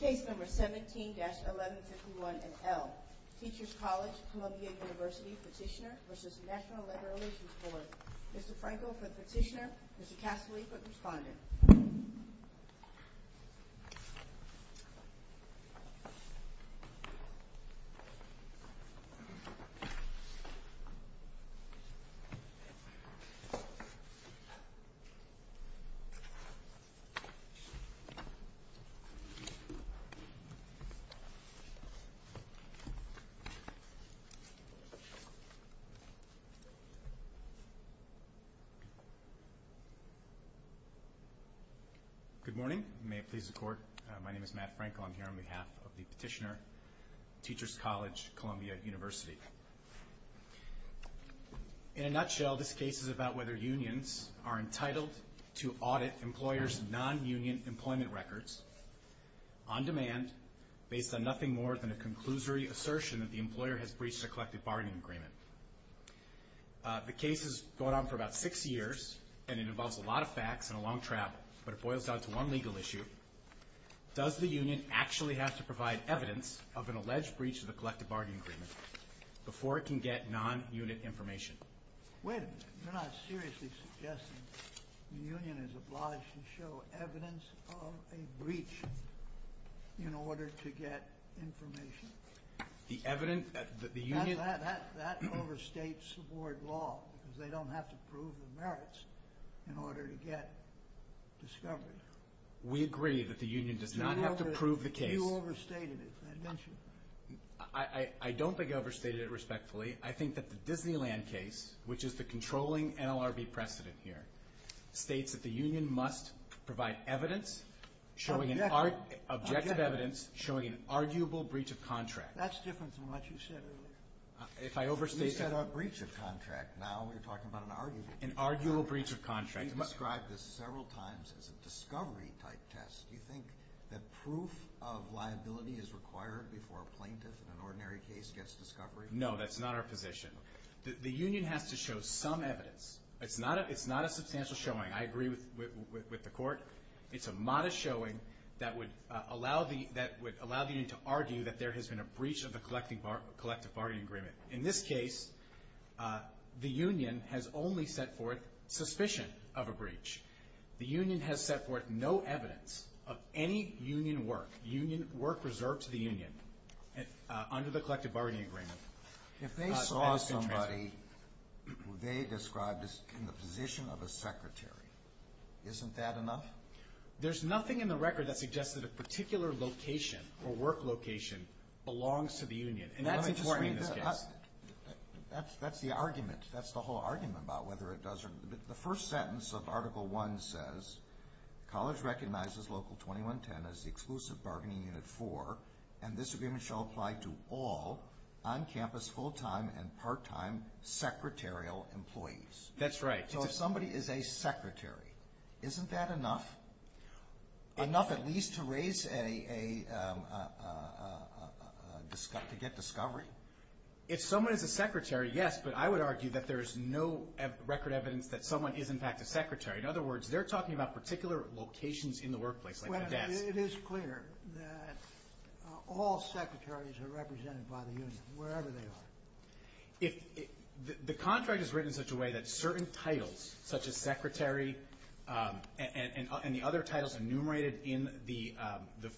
Case number 17-1151NL, Teachers College, Columbia University petitioner v. National Labor Relations Board. Mr. Frankel for the petitioner, Mr. Cassily for the respondent. Good morning. May it please the Court, my name is Matt Frankel. I'm here on behalf of the petitioner, Teachers College, Columbia University. In a nutshell, this case is about whether unions are entitled to audit employers' non-union employment records on demand based on nothing more than a conclusory assertion that the employer has breached a collective bargaining agreement. The case has gone on for about six years, and it involves a lot of facts and a long travel, but it boils down to one legal issue. Does the union actually have to provide evidence of an alleged breach of the collective bargaining agreement before it can get non-unit information? Wait a minute. You're not seriously suggesting the union is obliged to show evidence of a breach in order to get information? The evidence that the union... That overstates the board law, because they don't have to prove the merits in order to get discovered. We agree that the union does not have to prove the case. You overstated it, didn't you? I don't think I overstated it respectfully. I think that the Disneyland case, which is the controlling NLRB precedent here, states that the union must provide evidence, objective evidence, showing an arguable breach of contract. That's different from what you said earlier. You said a breach of contract. Now you're talking about an arguable breach of contract. You've described this several times as a discovery-type test. Do you think that proof of liability is required before a plaintiff in an ordinary case gets discovery? No, that's not our position. The union has to show some evidence. It's not a substantial showing. I agree with the court. It's a modest showing that would allow the union to argue that there has been a breach of the collective bargaining agreement. In this case, the union has only set forth suspicion of a breach. The union has set forth no evidence of any union work, work reserved to the union, under the collective bargaining agreement. If they saw somebody who they described as in the position of a secretary, isn't that enough? There's nothing in the record that suggests that a particular location or work location belongs to the union. And that's important in this case. That's the argument. That's the whole argument about whether it does or doesn't. The first sentence of Article I says, college recognizes Local 2110 as the exclusive bargaining unit for, and this agreement shall apply to all on-campus full-time and part-time secretarial employees. That's right. So if somebody is a secretary, isn't that enough? Enough at least to raise a, to get discovery? If someone is a secretary, yes, but I would argue that there is no record evidence that someone is in fact a secretary. In other words, they're talking about particular locations in the workplace, like a desk. It is clear that all secretaries are represented by the union, wherever they are. The contract is written in such a way that certain titles, such as secretary and the other titles enumerated in the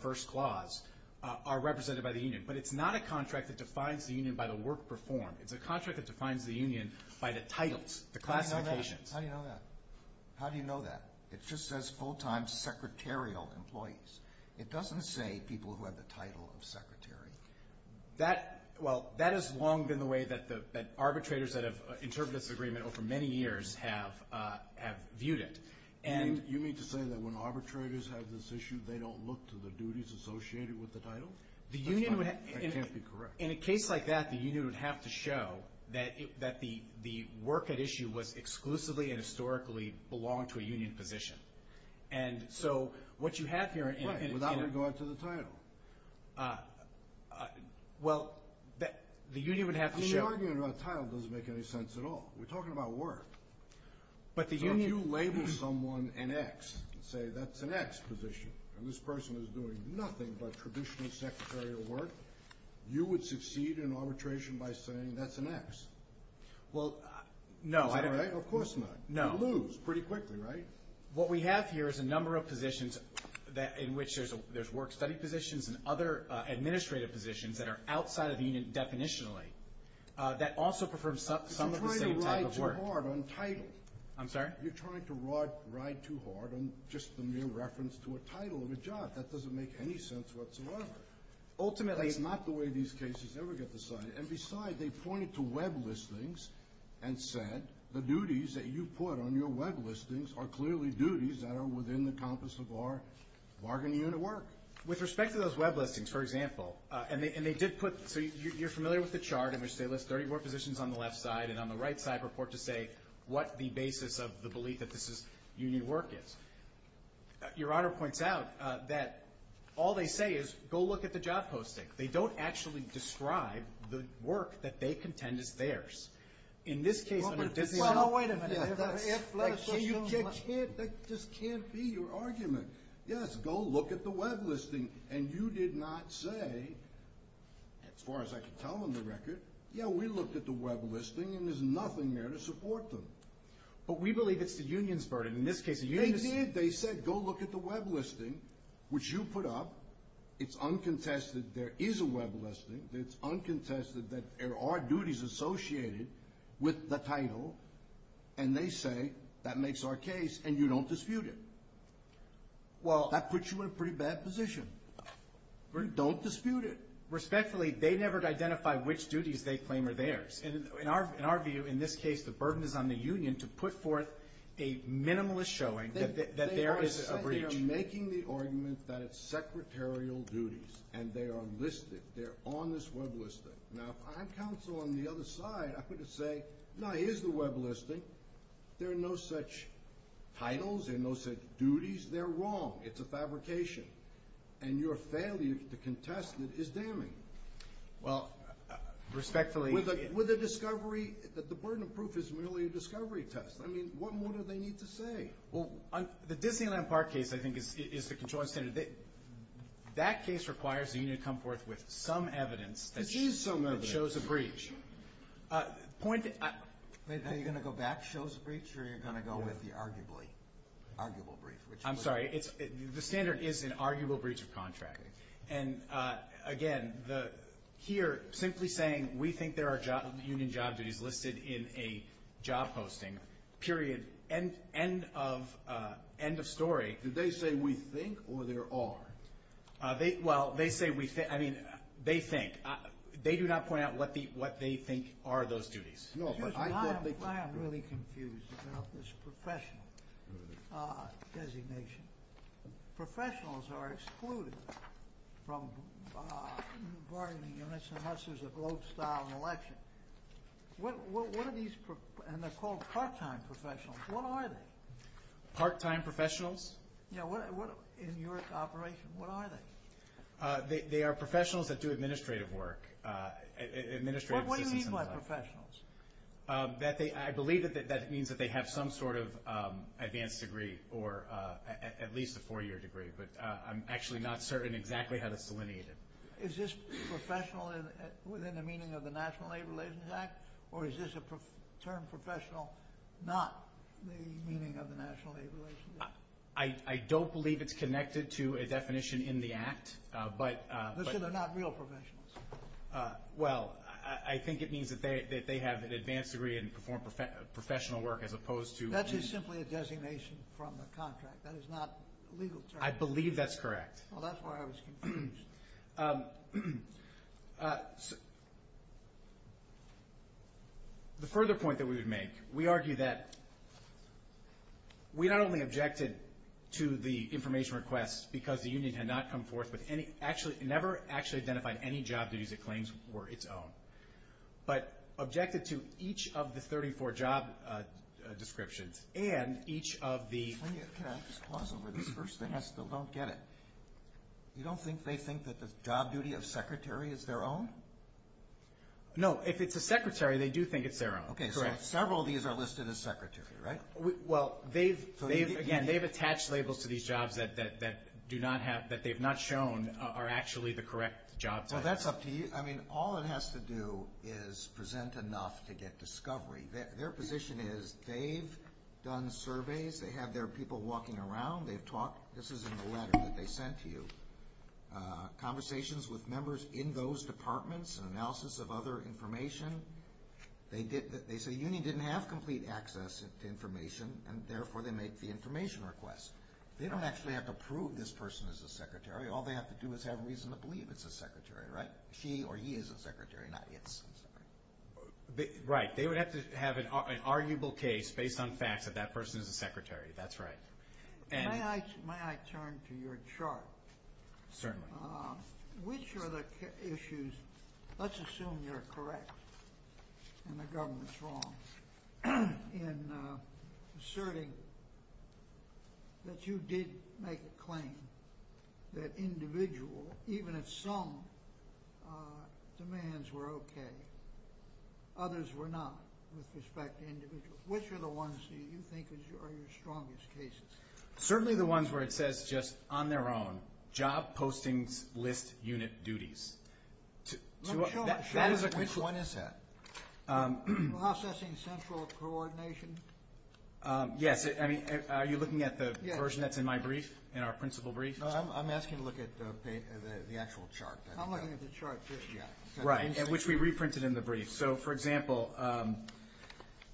first clause, are represented by the union. But it's not a contract that defines the union by the work performed. It's a contract that defines the union by the titles, the classifications. How do you know that? How do you know that? It just says full-time secretarial employees. It doesn't say people who have the title of secretary. That, well, that has long been the way that arbitrators that have interpreted this agreement over many years have viewed it. You mean to say that when arbitrators have this issue, they don't look to the duties associated with the title? That's not, that can't be correct. In a case like that, the union would have to show that the work at issue was exclusively and historically belonged to a union position. And so what you have here in... Right, without regard to the title. Well, the union would have to show... The argument about title doesn't make any sense at all. We're talking about work. But the union... So if you label someone an X and say that's an X position, and this person is doing nothing but traditional secretarial work, you would succeed in arbitration by saying that's an X. Well, no. Is that right? Of course not. No. You're going to lose pretty quickly, right? What we have here is a number of positions in which there's work-study positions and other administrative positions that are outside of the union definitionally that also prefer some of the same type of work. You're trying to ride too hard on title. I'm sorry? You're trying to ride too hard on just the mere reference to a title of a job. That doesn't make any sense whatsoever. Ultimately... That's not the way these cases ever get decided. And besides, they pointed to web listings and said the duties that you put on your web listings are clearly duties that are within the compass of our bargaining unit work. With respect to those web listings, for example, and they did put... So you're familiar with the chart in which they list 34 positions on the left side and on the right side report to say what the basis of the belief that this is union work is. Your Honor points out that all they say is go look at the job posting. They don't actually describe the work that they contend is theirs. In this case... Wait a minute. That just can't be your argument. Yes, go look at the web listing. And you did not say, as far as I can tell on the record, yeah, we looked at the web listing and there's nothing there to support them. But we believe it's the union's burden. They did. They said go look at the web listing, which you put up. It's uncontested there is a web listing. It's uncontested that there are duties associated with the title, and they say that makes our case and you don't dispute it. Well... That puts you in a pretty bad position. Don't dispute it. Respectfully, they never identify which duties they claim are theirs. In our view, in this case, I think you're making the argument that it's secretarial duties and they are listed, they're on this web listing. Now, if I'm counsel on the other side, I'm going to say, no, here's the web listing. There are no such titles. There are no such duties. They're wrong. It's a fabrication. And your failure to contest it is damning. Well... Respectfully... With a discovery... The burden of proof is merely a discovery test. I mean, what more do they need to say? Well, the Disneyland Park case, I think, is the controlling standard. That case requires the union to come forth with some evidence that shows a breach. Are you going to go back, shows a breach, or are you going to go with the arguable breach? I'm sorry. The standard is an arguable breach of contract. And, again, here, simply saying we think there are union job duties listed in a job posting, period. End of story. Did they say we think or there are? Well, they say we think. I mean, they think. They do not point out what they think are those duties. I am really confused about this professional designation. Professionals are excluded from bargaining units unless there's a vote-style election. What are these? And they're called part-time professionals. What are they? Part-time professionals? Yeah. In your operation, what are they? They are professionals that do administrative work. What do you mean by professionals? I believe that means that they have some sort of advanced degree or at least a four-year degree, but I'm actually not certain exactly how to selineate it. Is this professional within the meaning of the National Labor Relations Act, or is this a term professional not the meaning of the National Labor Relations Act? I don't believe it's connected to a definition in the Act. Let's say they're not real professionals. Well, I think it means that they have an advanced degree and perform professional work as opposed to— That is simply a designation from the contract. That is not a legal term. I believe that's correct. Well, that's why I was confused. The further point that we would make, we argue that we not only objected to the information request because the union had not come forth with any—never actually identified any job duties it claims were its own, but objected to each of the 34 job descriptions and each of the— You don't think they think that the job duty of secretary is their own? No. If it's a secretary, they do think it's their own. Okay, so several of these are listed as secretary, right? Well, they've—again, they've attached labels to these jobs that do not have— that they've not shown are actually the correct jobs. Well, that's up to you. I mean, all it has to do is present enough to get discovery. Their position is they've done surveys. They have their people walking around. They've talked. This is in the letter that they sent to you. Conversations with members in those departments, an analysis of other information. They say the union didn't have complete access to information, and therefore they make the information request. They don't actually have to prove this person is a secretary. All they have to do is have reason to believe it's a secretary, right? She or he is a secretary, not it's. Right. They would have to have an arguable case based on facts that that person is a secretary. That's right. May I turn to your chart? Certainly. Which are the issues—let's assume you're correct and the government's wrong in asserting that you did make a claim that individual, even at some, demands were okay. Others were not with respect to individual. Which are the ones that you think are your strongest cases? Certainly the ones where it says just on their own, job postings list unit duties. Let me show you. Which one is that? Processing central coordination. Yes. Are you looking at the version that's in my brief, in our principal brief? No, I'm asking you to look at the actual chart. I'm looking at the chart, too. Right, which we reprinted in the brief. So, for example,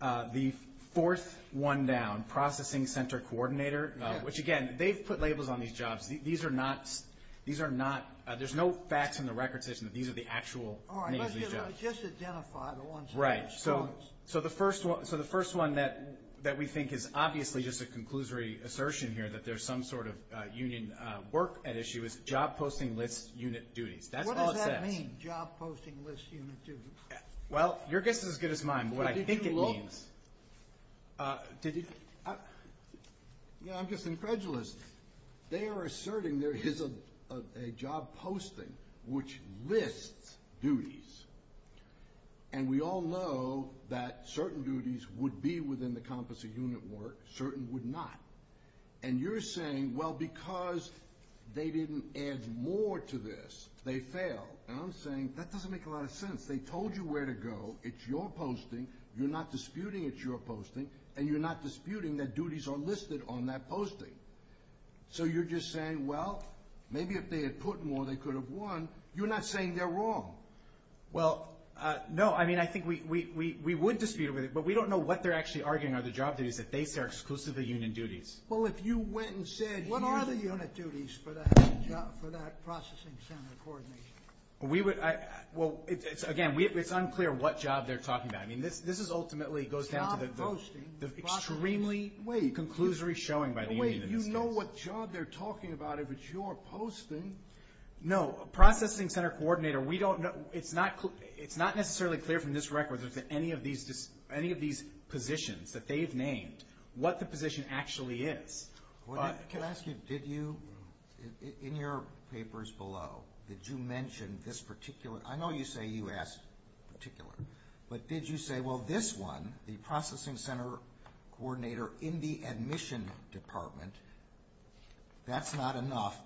the fourth one down, processing center coordinator, which, again, they've put labels on these jobs. These are not—there's no facts in the record station that these are the actual names of these jobs. All right, let's just identify the ones that are strong. Right. So the first one that we think is obviously just a conclusory assertion here, that there's some sort of union work at issue, is job posting list unit duties. That's all it says. What does that mean, job posting list unit duties? Well, your guess is as good as mine. What I think it means— Did you look? Did you— You know, I'm just incredulous. They are asserting there is a job posting which lists duties, and we all know that certain duties would be within the compass of unit work, certain would not. And you're saying, well, because they didn't add more to this, they failed. And I'm saying that doesn't make a lot of sense. They told you where to go. It's your posting. You're not disputing it's your posting, and you're not disputing that duties are listed on that posting. So you're just saying, well, maybe if they had put more, they could have won. You're not saying they're wrong. Well, no. I mean, I think we would dispute it, but we don't know what they're actually arguing are the job duties that they say are exclusively union duties. Well, if you went and said— What are the unit duties for that processing center coordinator? We would—well, again, it's unclear what job they're talking about. I mean, this ultimately goes down to the— Job posting. —extremely conclusory showing by the union in this case. Wait, you know what job they're talking about if it's your posting. No. Processing center coordinator, we don't know— It's not necessarily clear from this record that any of these positions that they've named, what the position actually is. Can I ask you, did you, in your papers below, did you mention this particular— I know you say you asked particular, but did you say, well, this one, the processing center coordinator in the admission department, that's not enough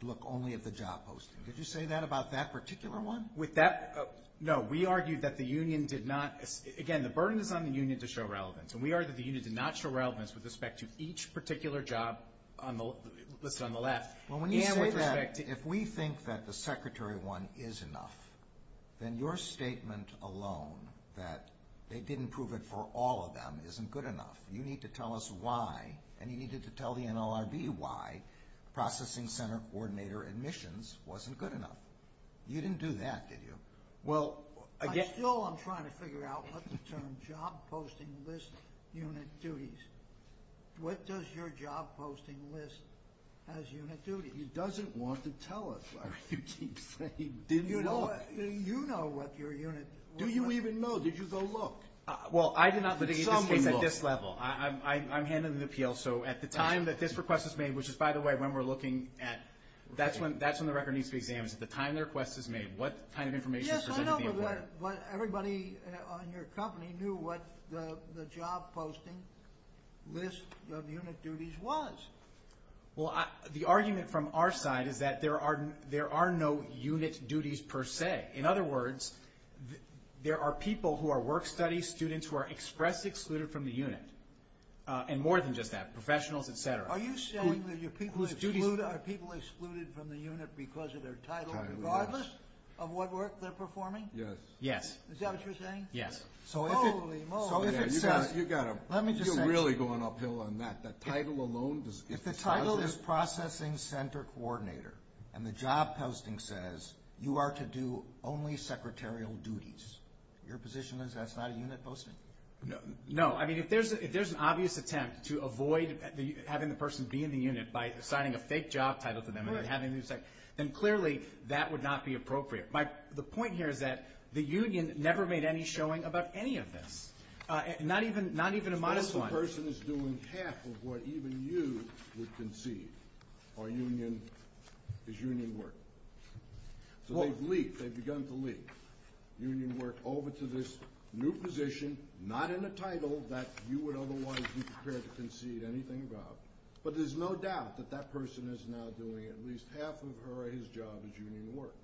to look only at the job posting. Did you say that about that particular one? With that—no, we argued that the union did not— again, the burden is on the union to show relevance, and we argued that the union did not show relevance with respect to each particular job listed on the left. Well, when you say that, if we think that the secretary one is enough, then your statement alone that they didn't prove it for all of them isn't good enough. You need to tell us why, and you needed to tell the NLRB why, processing center coordinator admissions wasn't good enough. You didn't do that, did you? Well, again— I still am trying to figure out what the term job posting list unit duties— what does your job posting list as unit duties? He doesn't want to tell us. I mean, you keep saying didn't look. Do you know what your unit— Do you even know? Did you go look? Well, I did not look at this case at this level. I'm handing the appeal, so at the time that this request was made, which is, by the way, when we're looking at— Yes, I know, but everybody on your company knew what the job posting list of unit duties was. Well, the argument from our side is that there are no unit duties per se. In other words, there are people who are work-study students who are express excluded from the unit, and more than just that, professionals, et cetera. Are you saying that your people are excluded from the unit because of their title? Regardless of what work they're performing? Yes. Is that what you're saying? Yes. Holy moly. You've really gone uphill on that. The title alone— If the title is processing center coordinator, and the job posting says you are to do only secretarial duties, your position is that's not a unit posting? No. I mean, if there's an obvious attempt to avoid having the person be in the unit by assigning a fake job title to them and then having them— Right. —then clearly that would not be appropriate. The point here is that the union never made any showing about any of this, not even a modest one. Suppose the person is doing half of what even you would concede is union work. So they've begun to leave union work over to this new position, not in a title that you would otherwise be prepared to concede anything about. But there's no doubt that that person is now doing at least half of his job as union work.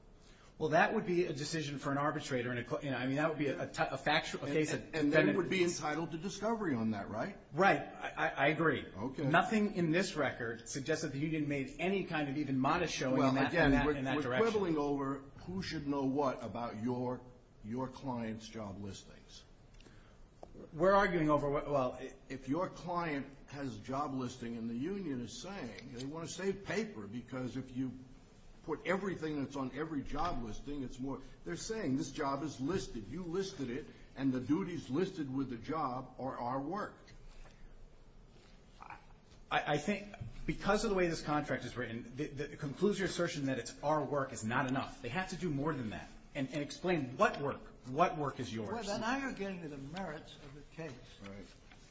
Well, that would be a decision for an arbitrator. I mean, that would be a factual case— And they would be entitled to discovery on that, right? Right. I agree. Nothing in this record suggests that the union made any kind of even modest showing in that direction. Well, again, we're quibbling over who should know what about your client's job listings. We're arguing over what— If your client has job listing and the union is saying they want to save paper because if you put everything that's on every job listing, it's more— They're saying this job is listed. You listed it, and the duties listed with the job are our work. I think because of the way this contract is written, it concludes your assertion that it's our work is not enough. They have to do more than that and explain what work, what work is yours. Well, then I am getting to the merits of the case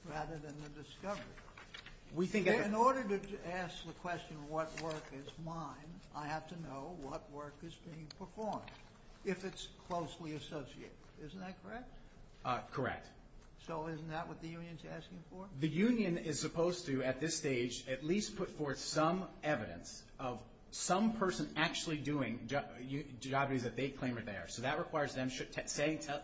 rather than the discovery. In order to ask the question what work is mine, I have to know what work is being performed, if it's closely associated. Isn't that correct? Correct. So isn't that what the union is asking for? The union is supposed to, at this stage, at least put forth some evidence of some person actually doing job duties that they claim that they are. So that requires them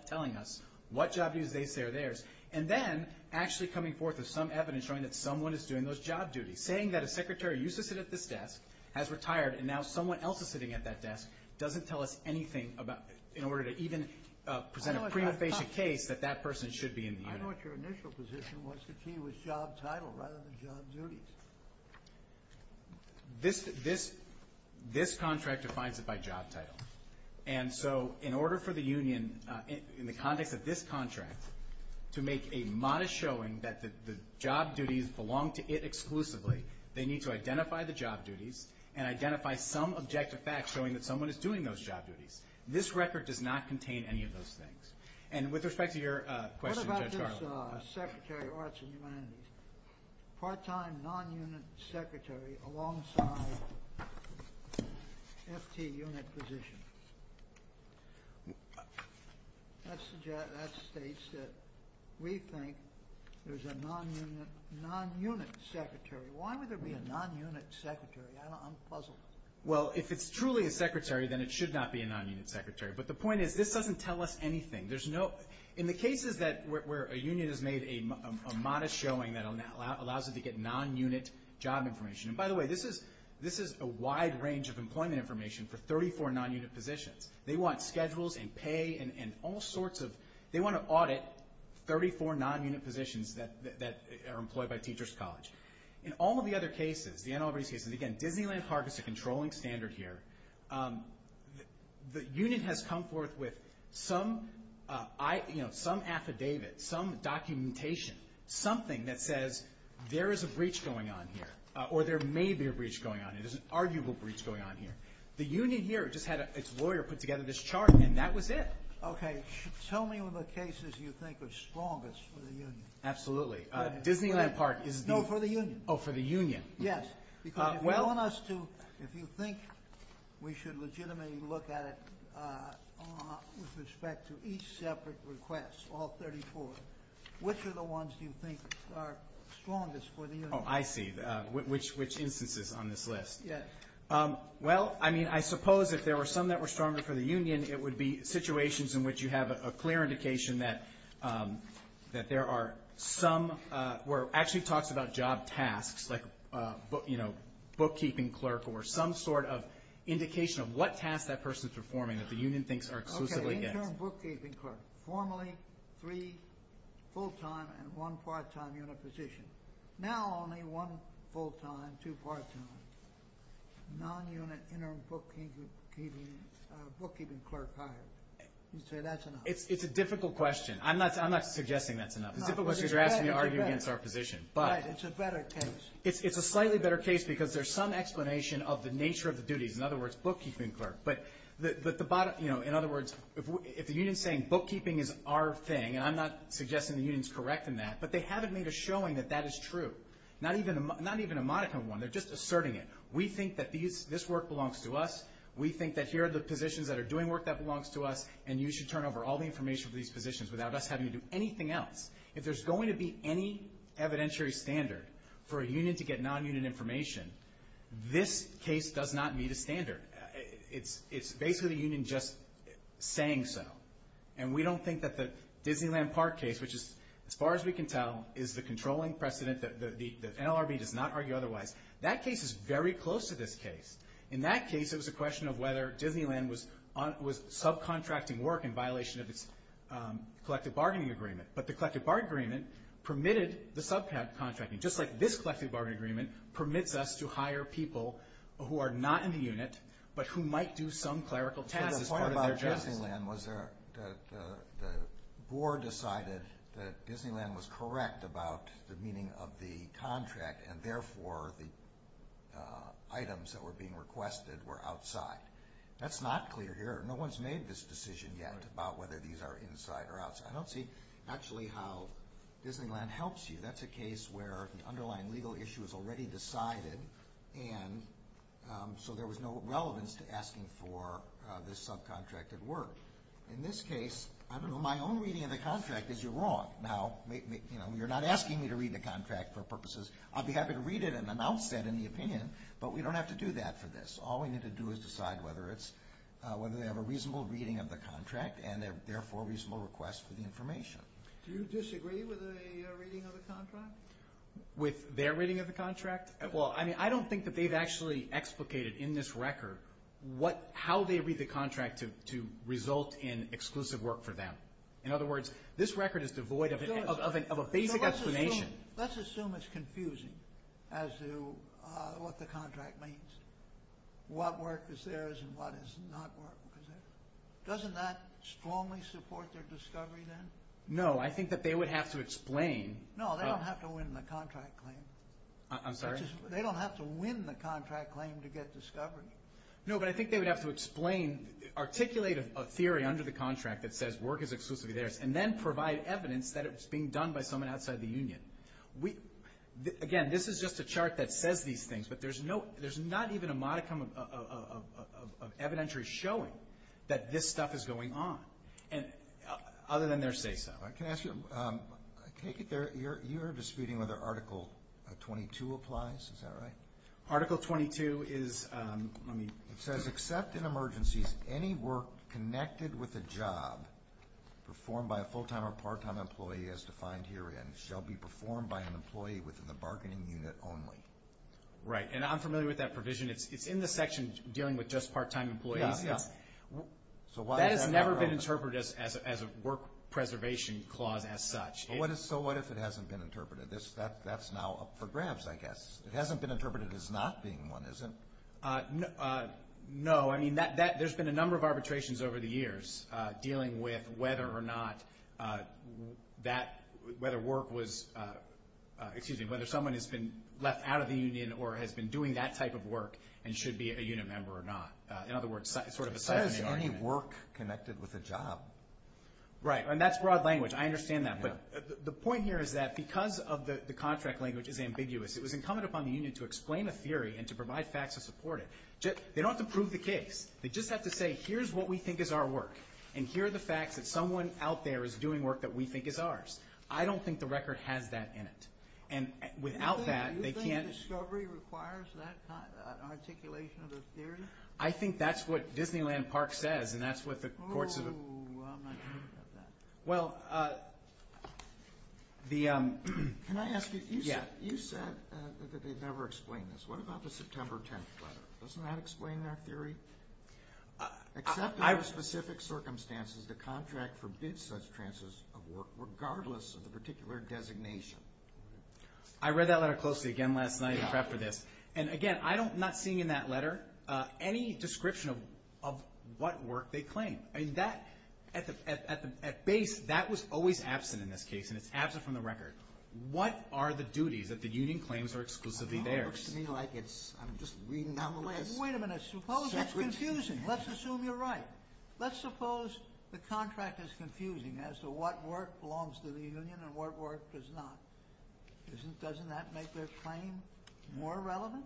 telling us what job duties they say are theirs and then actually coming forth with some evidence showing that someone is doing those job duties, saying that a secretary used to sit at this desk, has retired, and now someone else is sitting at that desk doesn't tell us anything about— in order to even present a prima facie case that that person should be in the union. I know what your initial position was that he was job title rather than job duties. This contract defines it by job title. And so in order for the union, in the context of this contract, to make a modest showing that the job duties belong to it exclusively, they need to identify the job duties and identify some objective facts showing that someone is doing those job duties. This record does not contain any of those things. And with respect to your question, Judge Garland— What about this Secretary of Arts and Humanities, part-time non-unit secretary alongside FT unit position? That states that we think there's a non-unit secretary. Why would there be a non-unit secretary? I'm puzzled. Well, if it's truly a secretary, then it should not be a non-unit secretary. But the point is this doesn't tell us anything. In the cases where a union has made a modest showing that allows it to get non-unit job information— and by the way, this is a wide range of employment information for 34 non-unit positions. They want schedules and pay and all sorts of— they want to audit 34 non-unit positions that are employed by Teachers College. In all of the other cases, the NLRB's cases, again, Disneyland Park is a controlling standard here. The union has come forth with some affidavit, some documentation, something that says there is a breach going on here, or there may be a breach going on here, there's an arguable breach going on here. The union here just had its lawyer put together this chart, and that was it. Okay. Tell me what cases you think are strongest for the union. Absolutely. Disneyland Park is the— No, for the union. Oh, for the union. Yes, because if you want us to— if you think we should legitimately look at it with respect to each separate request, all 34, which are the ones you think are strongest for the union? Oh, I see. Which instances on this list? Yes. Well, I mean, I suppose if there were some that were stronger for the union, it would be situations in which you have a clear indication that there are some— where it actually talks about job tasks, like bookkeeping clerk, or some sort of indication of what tasks that person is performing that the union thinks are exclusively theirs. Okay. Interim bookkeeping clerk. Formerly three full-time and one part-time unit positions. Now only one full-time, two part-time, non-unit interim bookkeeping clerk hire. So that's enough. It's a difficult question. I'm not suggesting that's enough. It's a difficult question because you're asking me to argue against our position. Right. It's a better case. It's a slightly better case because there's some explanation of the nature of the duties. In other words, bookkeeping clerk. But the bottom—you know, in other words, if the union is saying bookkeeping is our thing, and I'm not suggesting the union is correct in that, but they haven't made a showing that that is true. Not even a modicum of one. They're just asserting it. We think that this work belongs to us. We think that here are the positions that are doing work that belongs to us, and you should turn over all the information for these positions without us having to do anything else. If there's going to be any evidentiary standard for a union to get non-unit information, this case does not meet a standard. It's basically the union just saying so. And we don't think that the Disneyland Park case, which is, as far as we can tell, is the controlling precedent that NLRB does not argue otherwise, that case is very close to this case. In that case, it was a question of whether Disneyland was subcontracting work in violation of its collective bargaining agreement. But the collective bargaining agreement permitted the subcontracting, just like this collective bargaining agreement permits us to hire people who are not in the unit, but who might do some clerical task as part of their job. So the point about Disneyland was that the board decided that Disneyland was correct about the meaning of the contract, and therefore the items that were being requested were outside. That's not clear here. No one's made this decision yet about whether these are inside or outside. I don't see actually how Disneyland helps you. That's a case where the underlying legal issue is already decided, and so there was no relevance to asking for this subcontracted work. In this case, I don't know, my own reading of the contract is you're wrong. Now, you're not asking me to read the contract for purposes. I'd be happy to read it and announce that in the opinion, but we don't have to do that for this. All we need to do is decide whether they have a reasonable reading of the contract and therefore reasonable request for the information. Do you disagree with a reading of the contract? With their reading of the contract? Well, I mean, I don't think that they've actually explicated in this record how they read the contract to result in exclusive work for them. In other words, this record is devoid of a basic explanation. Let's assume it's confusing as to what the contract means, what work is theirs and what is not work. Doesn't that strongly support their discovery then? No, I think that they would have to explain. No, they don't have to win the contract claim. I'm sorry? They don't have to win the contract claim to get discovery. No, but I think they would have to explain, articulate a theory under the contract that says work is exclusively theirs and then provide evidence that it's being done by someone outside the union. Again, this is just a chart that says these things, but there's not even a modicum of evidentiary showing that this stuff is going on, other than they're safe. Can I ask you, you're disputing whether Article 22 applies, is that right? Article 22 is, let me. It says, except in emergencies, any work connected with a job performed by a full-time or part-time employee as defined herein shall be performed by an employee within the bargaining unit only. Right, and I'm familiar with that provision. It's in the section dealing with just part-time employees. That has never been interpreted as a work preservation clause as such. So what if it hasn't been interpreted? That's now up for grabs, I guess. It hasn't been interpreted as not being one, has it? No. I mean, there's been a number of arbitrations over the years dealing with whether or not that, whether work was, excuse me, whether someone has been left out of the union or has been doing that type of work and should be a unit member or not. In other words, sort of a side argument. It says any work connected with a job. Right, and that's broad language. I understand that. But the point here is that because of the contract language is ambiguous, it was incumbent upon the union to explain a theory and to provide facts to support it. They don't have to prove the case. They just have to say, here's what we think is our work, and here are the facts that someone out there is doing work that we think is ours. I don't think the record has that in it. And without that, they can't. Do you think discovery requires that kind of articulation of the theory? I think that's what Disneyland Park says, and that's what the courts have. Oh, I'm not sure about that. Well, the ‑‑ Can I ask you, you said that they've never explained this. What about the September 10th letter? Doesn't that explain our theory? Except under specific circumstances, the contract forbids such transits of work, regardless of the particular designation. I read that letter closely again last night in prep for this. And, again, I'm not seeing in that letter any description of what work they claim. At base, that was always absent in this case, and it's absent from the record. What are the duties that the union claims are exclusively theirs? It looks to me like I'm just reading down the list. Wait a minute. Suppose it's confusing. Let's assume you're right. Let's suppose the contract is confusing as to what work belongs to the union and what work does not. Doesn't that make their claim more relevant?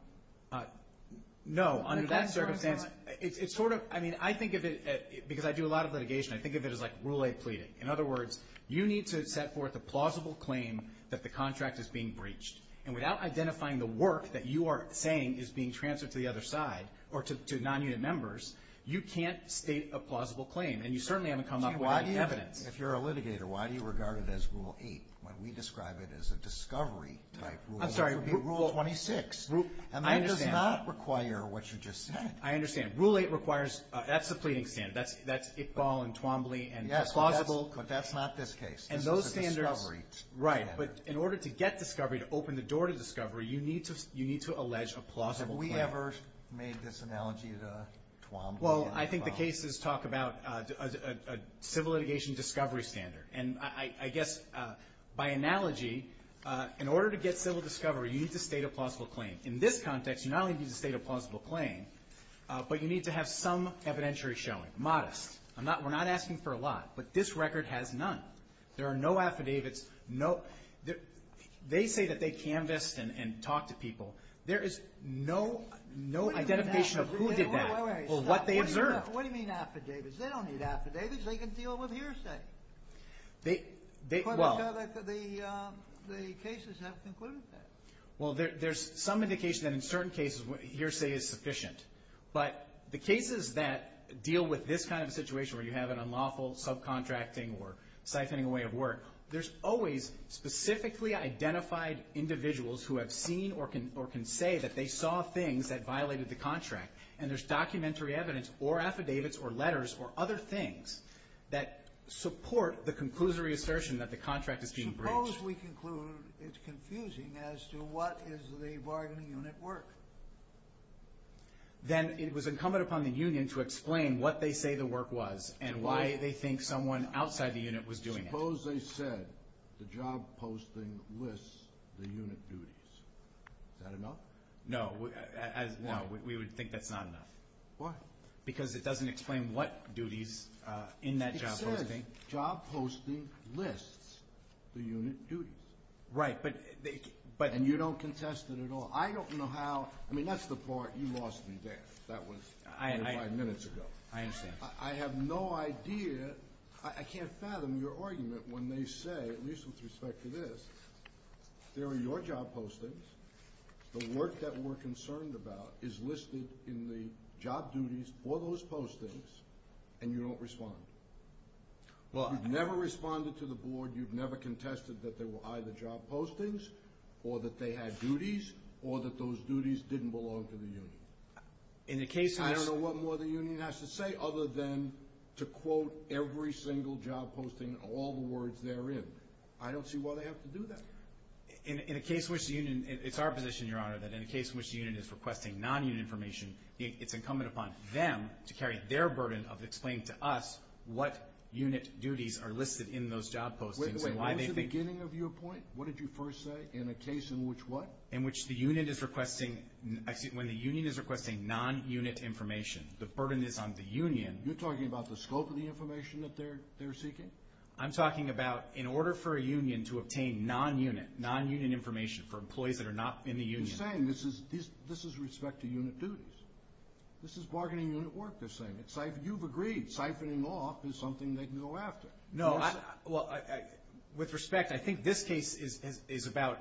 No. Under that circumstance, it's sort of ‑‑ I mean, I think of it, because I do a lot of litigation, I think of it as like rule 8 pleading. In other words, you need to set forth a plausible claim that the contract is being breached. And without identifying the work that you are saying is being transferred to the other side or to nonunit members, you can't state a plausible claim. And you certainly haven't come up with any evidence. If you're a litigator, why do you regard it as rule 8 when we describe it as a discovery type rule? I'm sorry. Rule 26. And that does not require what you just said. I understand. Rule 8 requires ‑‑ that's the pleading standard. That's Iqbal and Twombly and plausible. Yes, but that's not this case. This is a discovery standard. Right. But in order to get discovery, to open the door to discovery, you need to allege a plausible claim. Have we ever made this analogy to Twombly and Iqbal? Well, I think the cases talk about a civil litigation discovery standard. And I guess by analogy, in order to get civil discovery, you need to state a plausible claim. In this context, you not only need to state a plausible claim, but you need to have some evidentiary showing. Modest. We're not asking for a lot. But this record has none. There are no affidavits. They say that they canvassed and talked to people. There is no identification of who did that or what they observed. Wait a minute. What do you mean affidavits? They don't need affidavits. They can deal with hearsay. The cases have concluded that. Well, there's some indication that in certain cases hearsay is sufficient. But the cases that deal with this kind of situation where you have an unlawful subcontracting or siphoning away of work, there's always specifically identified individuals who have seen or can say that they saw things that violated the contract. And there's documentary evidence or affidavits or letters or other things that support the conclusory assertion that the contract is being breached. Suppose we conclude it's confusing as to what is the bargaining unit work. Then it was incumbent upon the union to explain what they say the work was and why they think someone outside the unit was doing it. Suppose they said the job posting lists the unit duties. Is that enough? No, we would think that's not enough. Why? Because it doesn't explain what duties in that job posting. It says job posting lists the unit duties. Right. And you don't contest it at all. I don't know how. I mean, that's the part you lost me there. That was five minutes ago. I understand. I have no idea. I can't fathom your argument when they say, at least with respect to this, there are your job postings, the work that we're concerned about is listed in the job duties or those postings, and you don't respond. You've never responded to the board. You've never contested that there were either job postings or that they had duties or that those duties didn't belong to the union. I don't know what more the union has to say other than to quote every single job posting, all the words therein. I don't see why they have to do that. It's our position, Your Honor, that in a case in which the unit is requesting non-unit information, it's incumbent upon them to carry their burden of explaining to us what unit duties are listed in those job postings. Wait, wait, what was the beginning of your point? What did you first say? In a case in which what? In which the unit is requesting non-unit information. The burden is on the union. You're talking about the scope of the information that they're seeking? I'm talking about in order for a union to obtain non-unit, non-union information for employees that are not in the union. But you're saying this is respect to unit duties. This is bargaining unit work, they're saying. You've agreed siphoning off is something they can go after. No, well, with respect, I think this case is about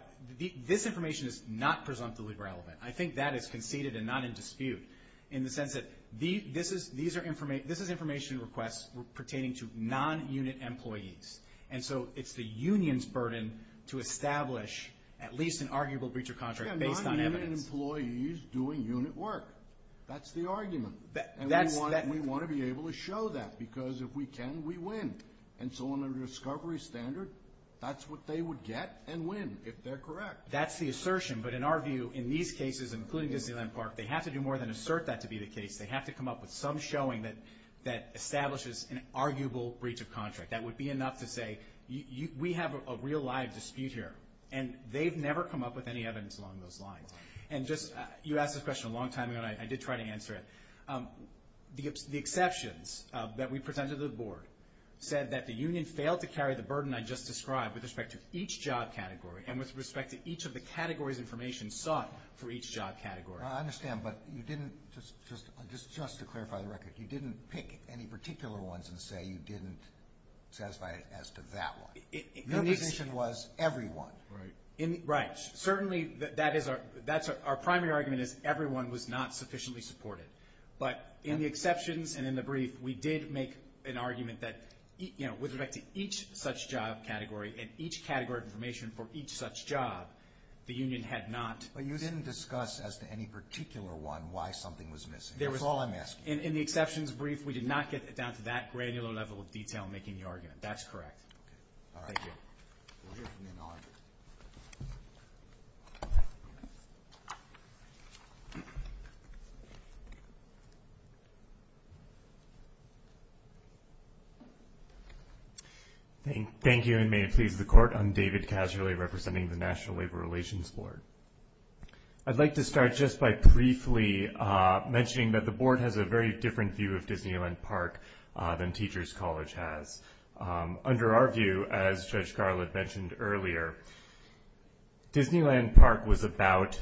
this information is not presumptively relevant. I think that is conceded and not in dispute in the sense that this is information requests pertaining to non-unit employees. And so it's the union's burden to establish at least an arguable breach of contract based on evidence. Yeah, non-union employees doing unit work. That's the argument. And we want to be able to show that because if we can, we win. And so on a discovery standard, that's what they would get and win if they're correct. That's the assertion. But in our view, in these cases, including Disneyland Park, they have to do more than assert that to be the case. They have to come up with some showing that establishes an arguable breach of contract. That would be enough to say we have a real live dispute here. And they've never come up with any evidence along those lines. And just, you asked this question a long time ago, and I did try to answer it. The exceptions that we presented to the board said that the union failed to carry the burden I just described with respect to each job category and with respect to each of the categories information sought for each job category. I understand, but you didn't, just to clarify the record, you didn't pick any particular ones and say you didn't satisfy as to that one. Your position was everyone. Right. Certainly, that's our primary argument is everyone was not sufficiently supported. But in the exceptions and in the brief, we did make an argument that with respect to each such job category and each category of information for each such job, the union had not. But you didn't discuss as to any particular one why something was missing. That's all I'm asking. In the exceptions brief, we did not get down to that granular level of detail in making the argument. That's correct. All right. Thank you. Thank you, and may it please the Court. I'm David Casually representing the National Labor Relations Board. I'd like to start just by briefly mentioning that the Board has a very different view of Disneyland Park than Teachers College has. Under our view, as Judge Garland mentioned earlier, Disneyland Park was about,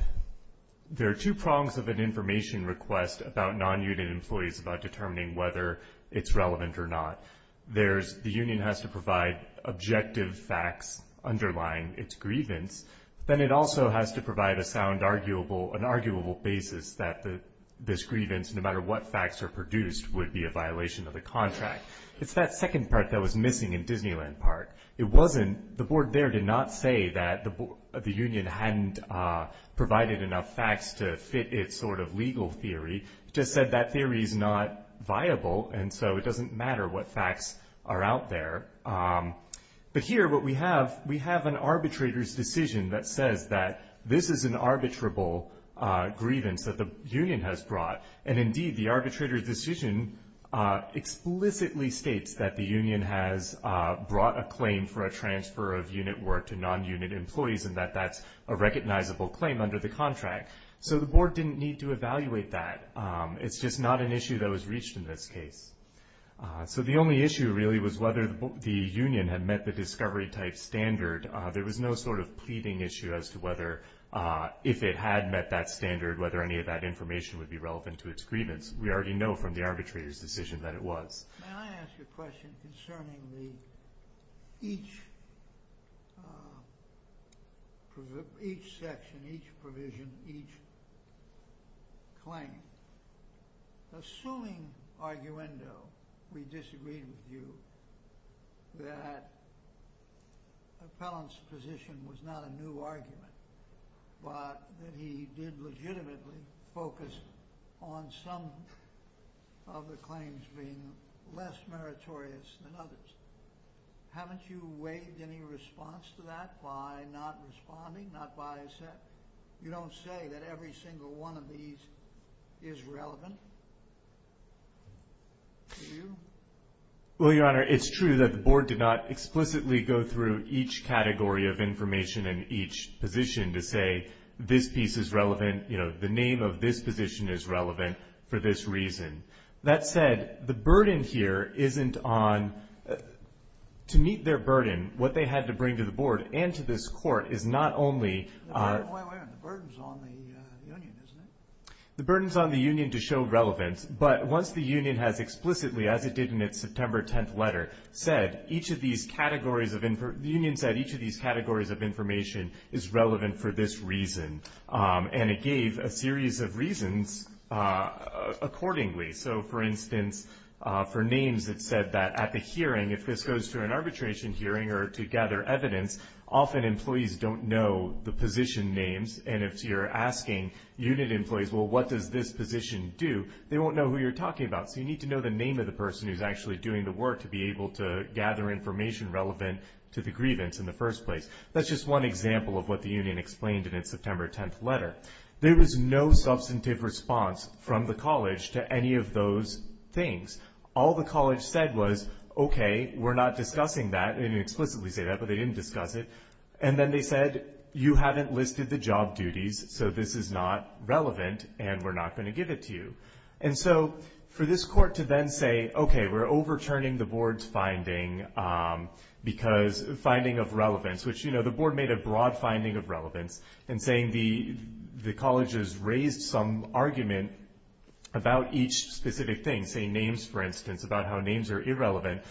there are two prongs of an information request about non-unit employees about determining whether it's relevant or not. The union has to provide objective facts underlying its grievance. Then it also has to provide a sound arguable basis that this grievance, no matter what facts are produced, would be a violation of the contract. It's that second part that was missing in Disneyland Park. It wasn't, the Board there did not say that the union hadn't provided enough facts to fit its sort of legal theory. It just said that theory is not viable, and so it doesn't matter what facts are out there. But here what we have, we have an arbitrator's decision that says that this is an arbitrable grievance that the union has brought. And indeed, the arbitrator's decision explicitly states that the union has brought a claim for a transfer of unit work to non-unit employees and that that's a recognizable claim under the contract. So the Board didn't need to evaluate that. It's just not an issue that was reached in this case. So the only issue really was whether the union had met the discovery type standard. There was no sort of pleading issue as to whether, if it had met that standard, whether any of that information would be relevant to its grievance. We already know from the arbitrator's decision that it was. May I ask you a question concerning each section, each provision, each claim? Assuming, arguendo, we disagreed with you, that Appellant's position was not a new argument, but that he did legitimately focus on some of the claims being less meritorious than others. Haven't you waived any response to that by not responding, not by saying, you don't say that every single one of these is relevant to you? Well, Your Honor, it's true that the Board did not explicitly go through each category of information and each position to say this piece is relevant, you know, the name of this position is relevant for this reason. That said, the burden here isn't on – to meet their burden, what they had to bring to the Board and to this Court is not only – Wait a minute. The burden's on the union, isn't it? The burden's on the union to show relevance. But once the union has explicitly, as it did in its September 10th letter, said each of these categories of – the union said each of these categories of information is relevant for this reason, and it gave a series of reasons accordingly. So, for instance, for names, it said that at the hearing, if this goes to an arbitration hearing or to gather evidence, often employees don't know the position names, and if you're asking unit employees, well, what does this position do, they won't know who you're talking about. So you need to know the name of the person who's actually doing the work to be able to gather information relevant to the grievance in the first place. That's just one example of what the union explained in its September 10th letter. There was no substantive response from the college to any of those things. All the college said was, okay, we're not discussing that. They didn't explicitly say that, but they didn't discuss it. And then they said, you haven't listed the job duties, so this is not relevant and we're not going to give it to you. And so for this court to then say, okay, we're overturning the board's finding because finding of relevance, which, you know, the board made a broad finding of relevance in saying the colleges raised some argument about each specific thing, say names, for instance, about how names are irrelevant.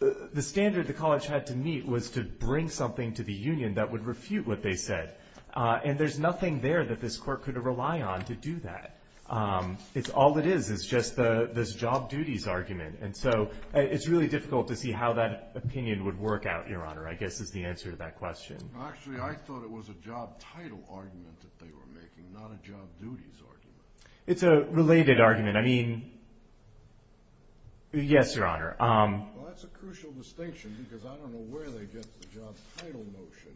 The standard the college had to meet was to bring something to the union that would refute what they said. And there's nothing there that this court could rely on to do that. All it is is just this job duties argument. And so it's really difficult to see how that opinion would work out, Your Honor, I guess is the answer to that question. Actually, I thought it was a job title argument that they were making, not a job duties argument. It's a related argument. I mean, yes, Your Honor. Well, that's a crucial distinction because I don't know where they get the job title notion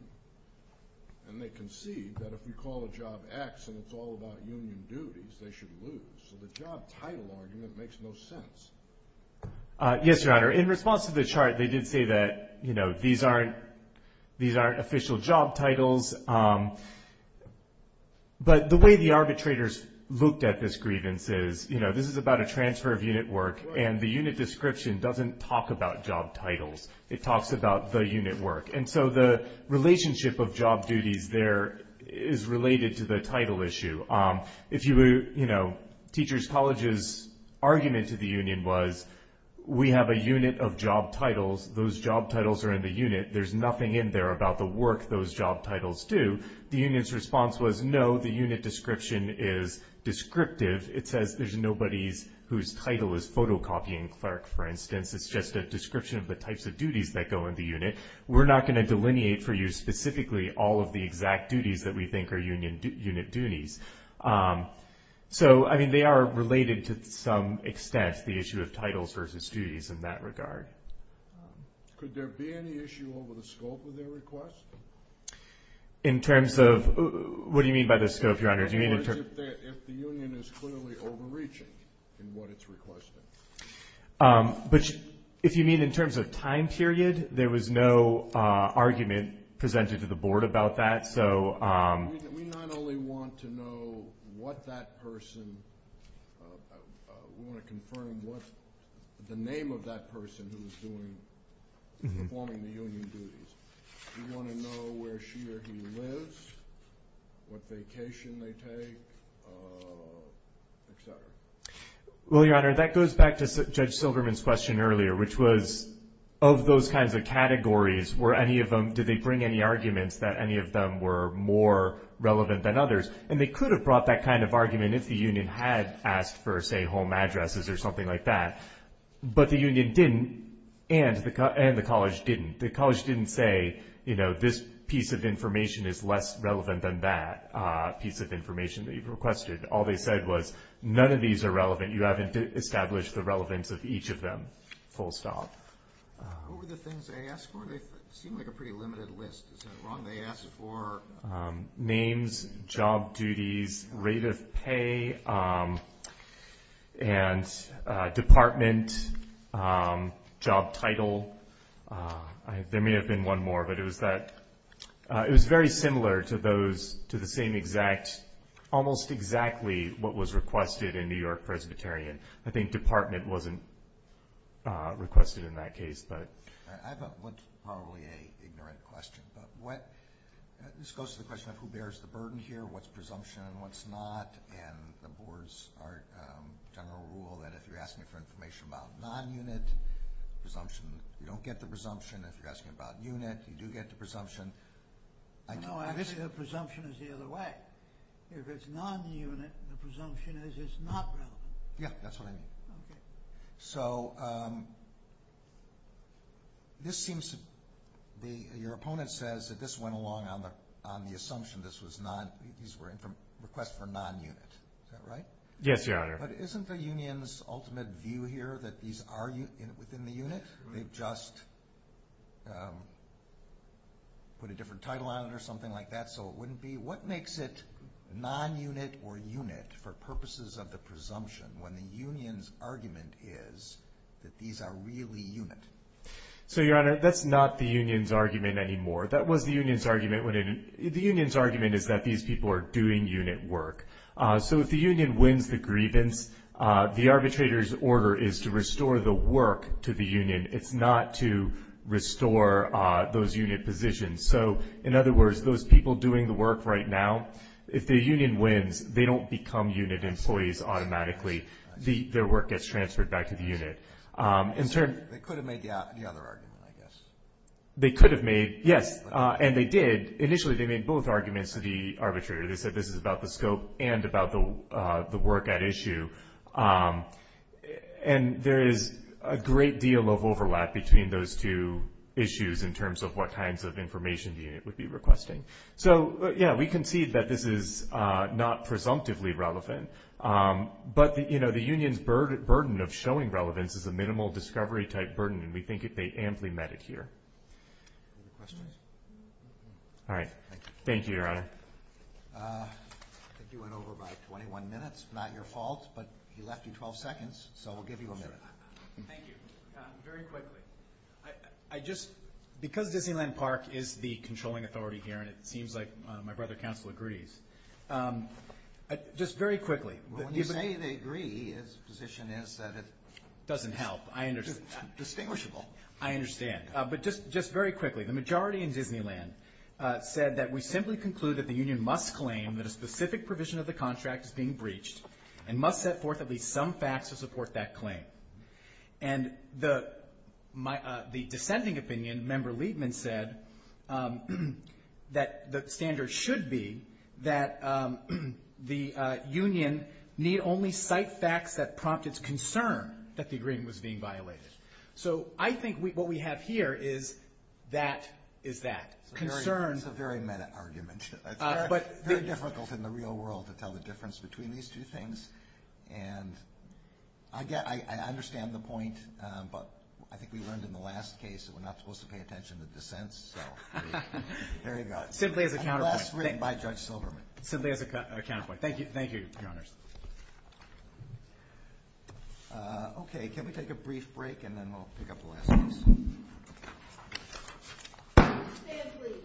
and they concede that if you call a job X and it's all about union duties, they should lose. So the job title argument makes no sense. Yes, Your Honor. In response to the chart, they did say that, you know, these aren't official job titles. But the way the arbitrators looked at this grievance is, you know, this is about a transfer of unit work, and the unit description doesn't talk about job titles. It talks about the unit work. And so the relationship of job duties there is related to the title issue. If you would, you know, Teachers College's argument to the union was we have a unit of job titles. Those job titles are in the unit. There's nothing in there about the work those job titles do. The union's response was no, the unit description is descriptive. It says there's nobody whose title is photocopying. For instance, it's just a description of the types of duties that go in the unit. We're not going to delineate for you specifically all of the exact duties that we think are unit duties. So, I mean, they are related to some extent, the issue of titles versus duties in that regard. Could there be any issue over the scope of their request? In terms of what do you mean by the scope, Your Honor? If the union is clearly overreaching in what it's requesting. But if you mean in terms of time period, there was no argument presented to the board about that. We not only want to know what that person, we want to confirm the name of that person who is performing the union duties. We want to know where she or he lives, what vacation they take, et cetera. Well, Your Honor, that goes back to Judge Silverman's question earlier, which was of those kinds of categories, were any of them, did they bring any arguments that any of them were more relevant than others? And they could have brought that kind of argument if the union had asked for, say, home addresses or something like that. But the union didn't and the college didn't. The college didn't say, you know, this piece of information is less relevant than that piece of information that you've requested. All they said was none of these are relevant. You haven't established the relevance of each of them, full stop. What were the things they asked for? They seem like a pretty limited list. Is that wrong? They asked for names, job duties, rate of pay, and department, job title. There may have been one more, but it was very similar to the same exact, almost exactly what was requested in New York Presbyterian. I think department wasn't requested in that case. I have probably an ignorant question. This goes to the question of who bears the burden here, what's presumption and what's not. And the board's general rule that if you're asking for information about non-unit presumption, you don't get the presumption. If you're asking about unit, you do get the presumption. No, actually the presumption is the other way. If it's non-unit, the presumption is it's not relevant. Yeah, that's what I mean. Okay. Your opponent says that this went along on the assumption these were requests for non-unit. Is that right? Yes, Your Honor. But isn't the union's ultimate view here that these are within the unit? They've just put a different title on it or something like that so it wouldn't be. What makes it non-unit or unit for purposes of the presumption when the union's argument is that these are really unit? So, Your Honor, that's not the union's argument anymore. That was the union's argument. The union's argument is that these people are doing unit work. So if the union wins the grievance, the arbitrator's order is to restore the work to the union. It's not to restore those unit positions. So, in other words, those people doing the work right now, if the union wins, they don't become unit employees automatically. Their work gets transferred back to the unit. They could have made the other argument, I guess. They could have made, yes. And they did. Initially they made both arguments to the arbitrator. They said this is about the scope and about the work at issue. And there is a great deal of overlap between those two issues in terms of what kinds of information the unit would be requesting. So, yeah, we concede that this is not presumptively relevant. But, you know, the union's burden of showing relevance is a minimal discovery type burden, and we think they amply met it here. Any questions? All right. Thank you, Your Honor. I think you went over about 21 minutes. Not your fault, but he left you 12 seconds, so we'll give you a minute. Thank you. Very quickly. I just, because Disneyland Park is the controlling authority here, and it seems like my brother counsel agrees, just very quickly. Well, when you say they agree, his position is that it doesn't help. I understand. Distinguishable. I understand. But just very quickly. The majority in Disneyland said that we simply conclude that the union must claim that a specific provision of the contract is being breached and must set forth at least some facts to support that claim. And the dissenting opinion, Member Liebman said, that the standard should be that the union need only cite facts that prompt its concern that the agreement was being violated. So I think what we have here is that concern. It's a very meta argument. It's very difficult in the real world to tell the difference between these two things. And I understand the point, but I think we learned in the last case that we're not supposed to pay attention to dissents. So there you go. Simply as a counterpoint. And last written by Judge Silverman. Simply as a counterpoint. Thank you, Your Honors. Okay. Can we take a brief break and then we'll pick up the last case? Stand free.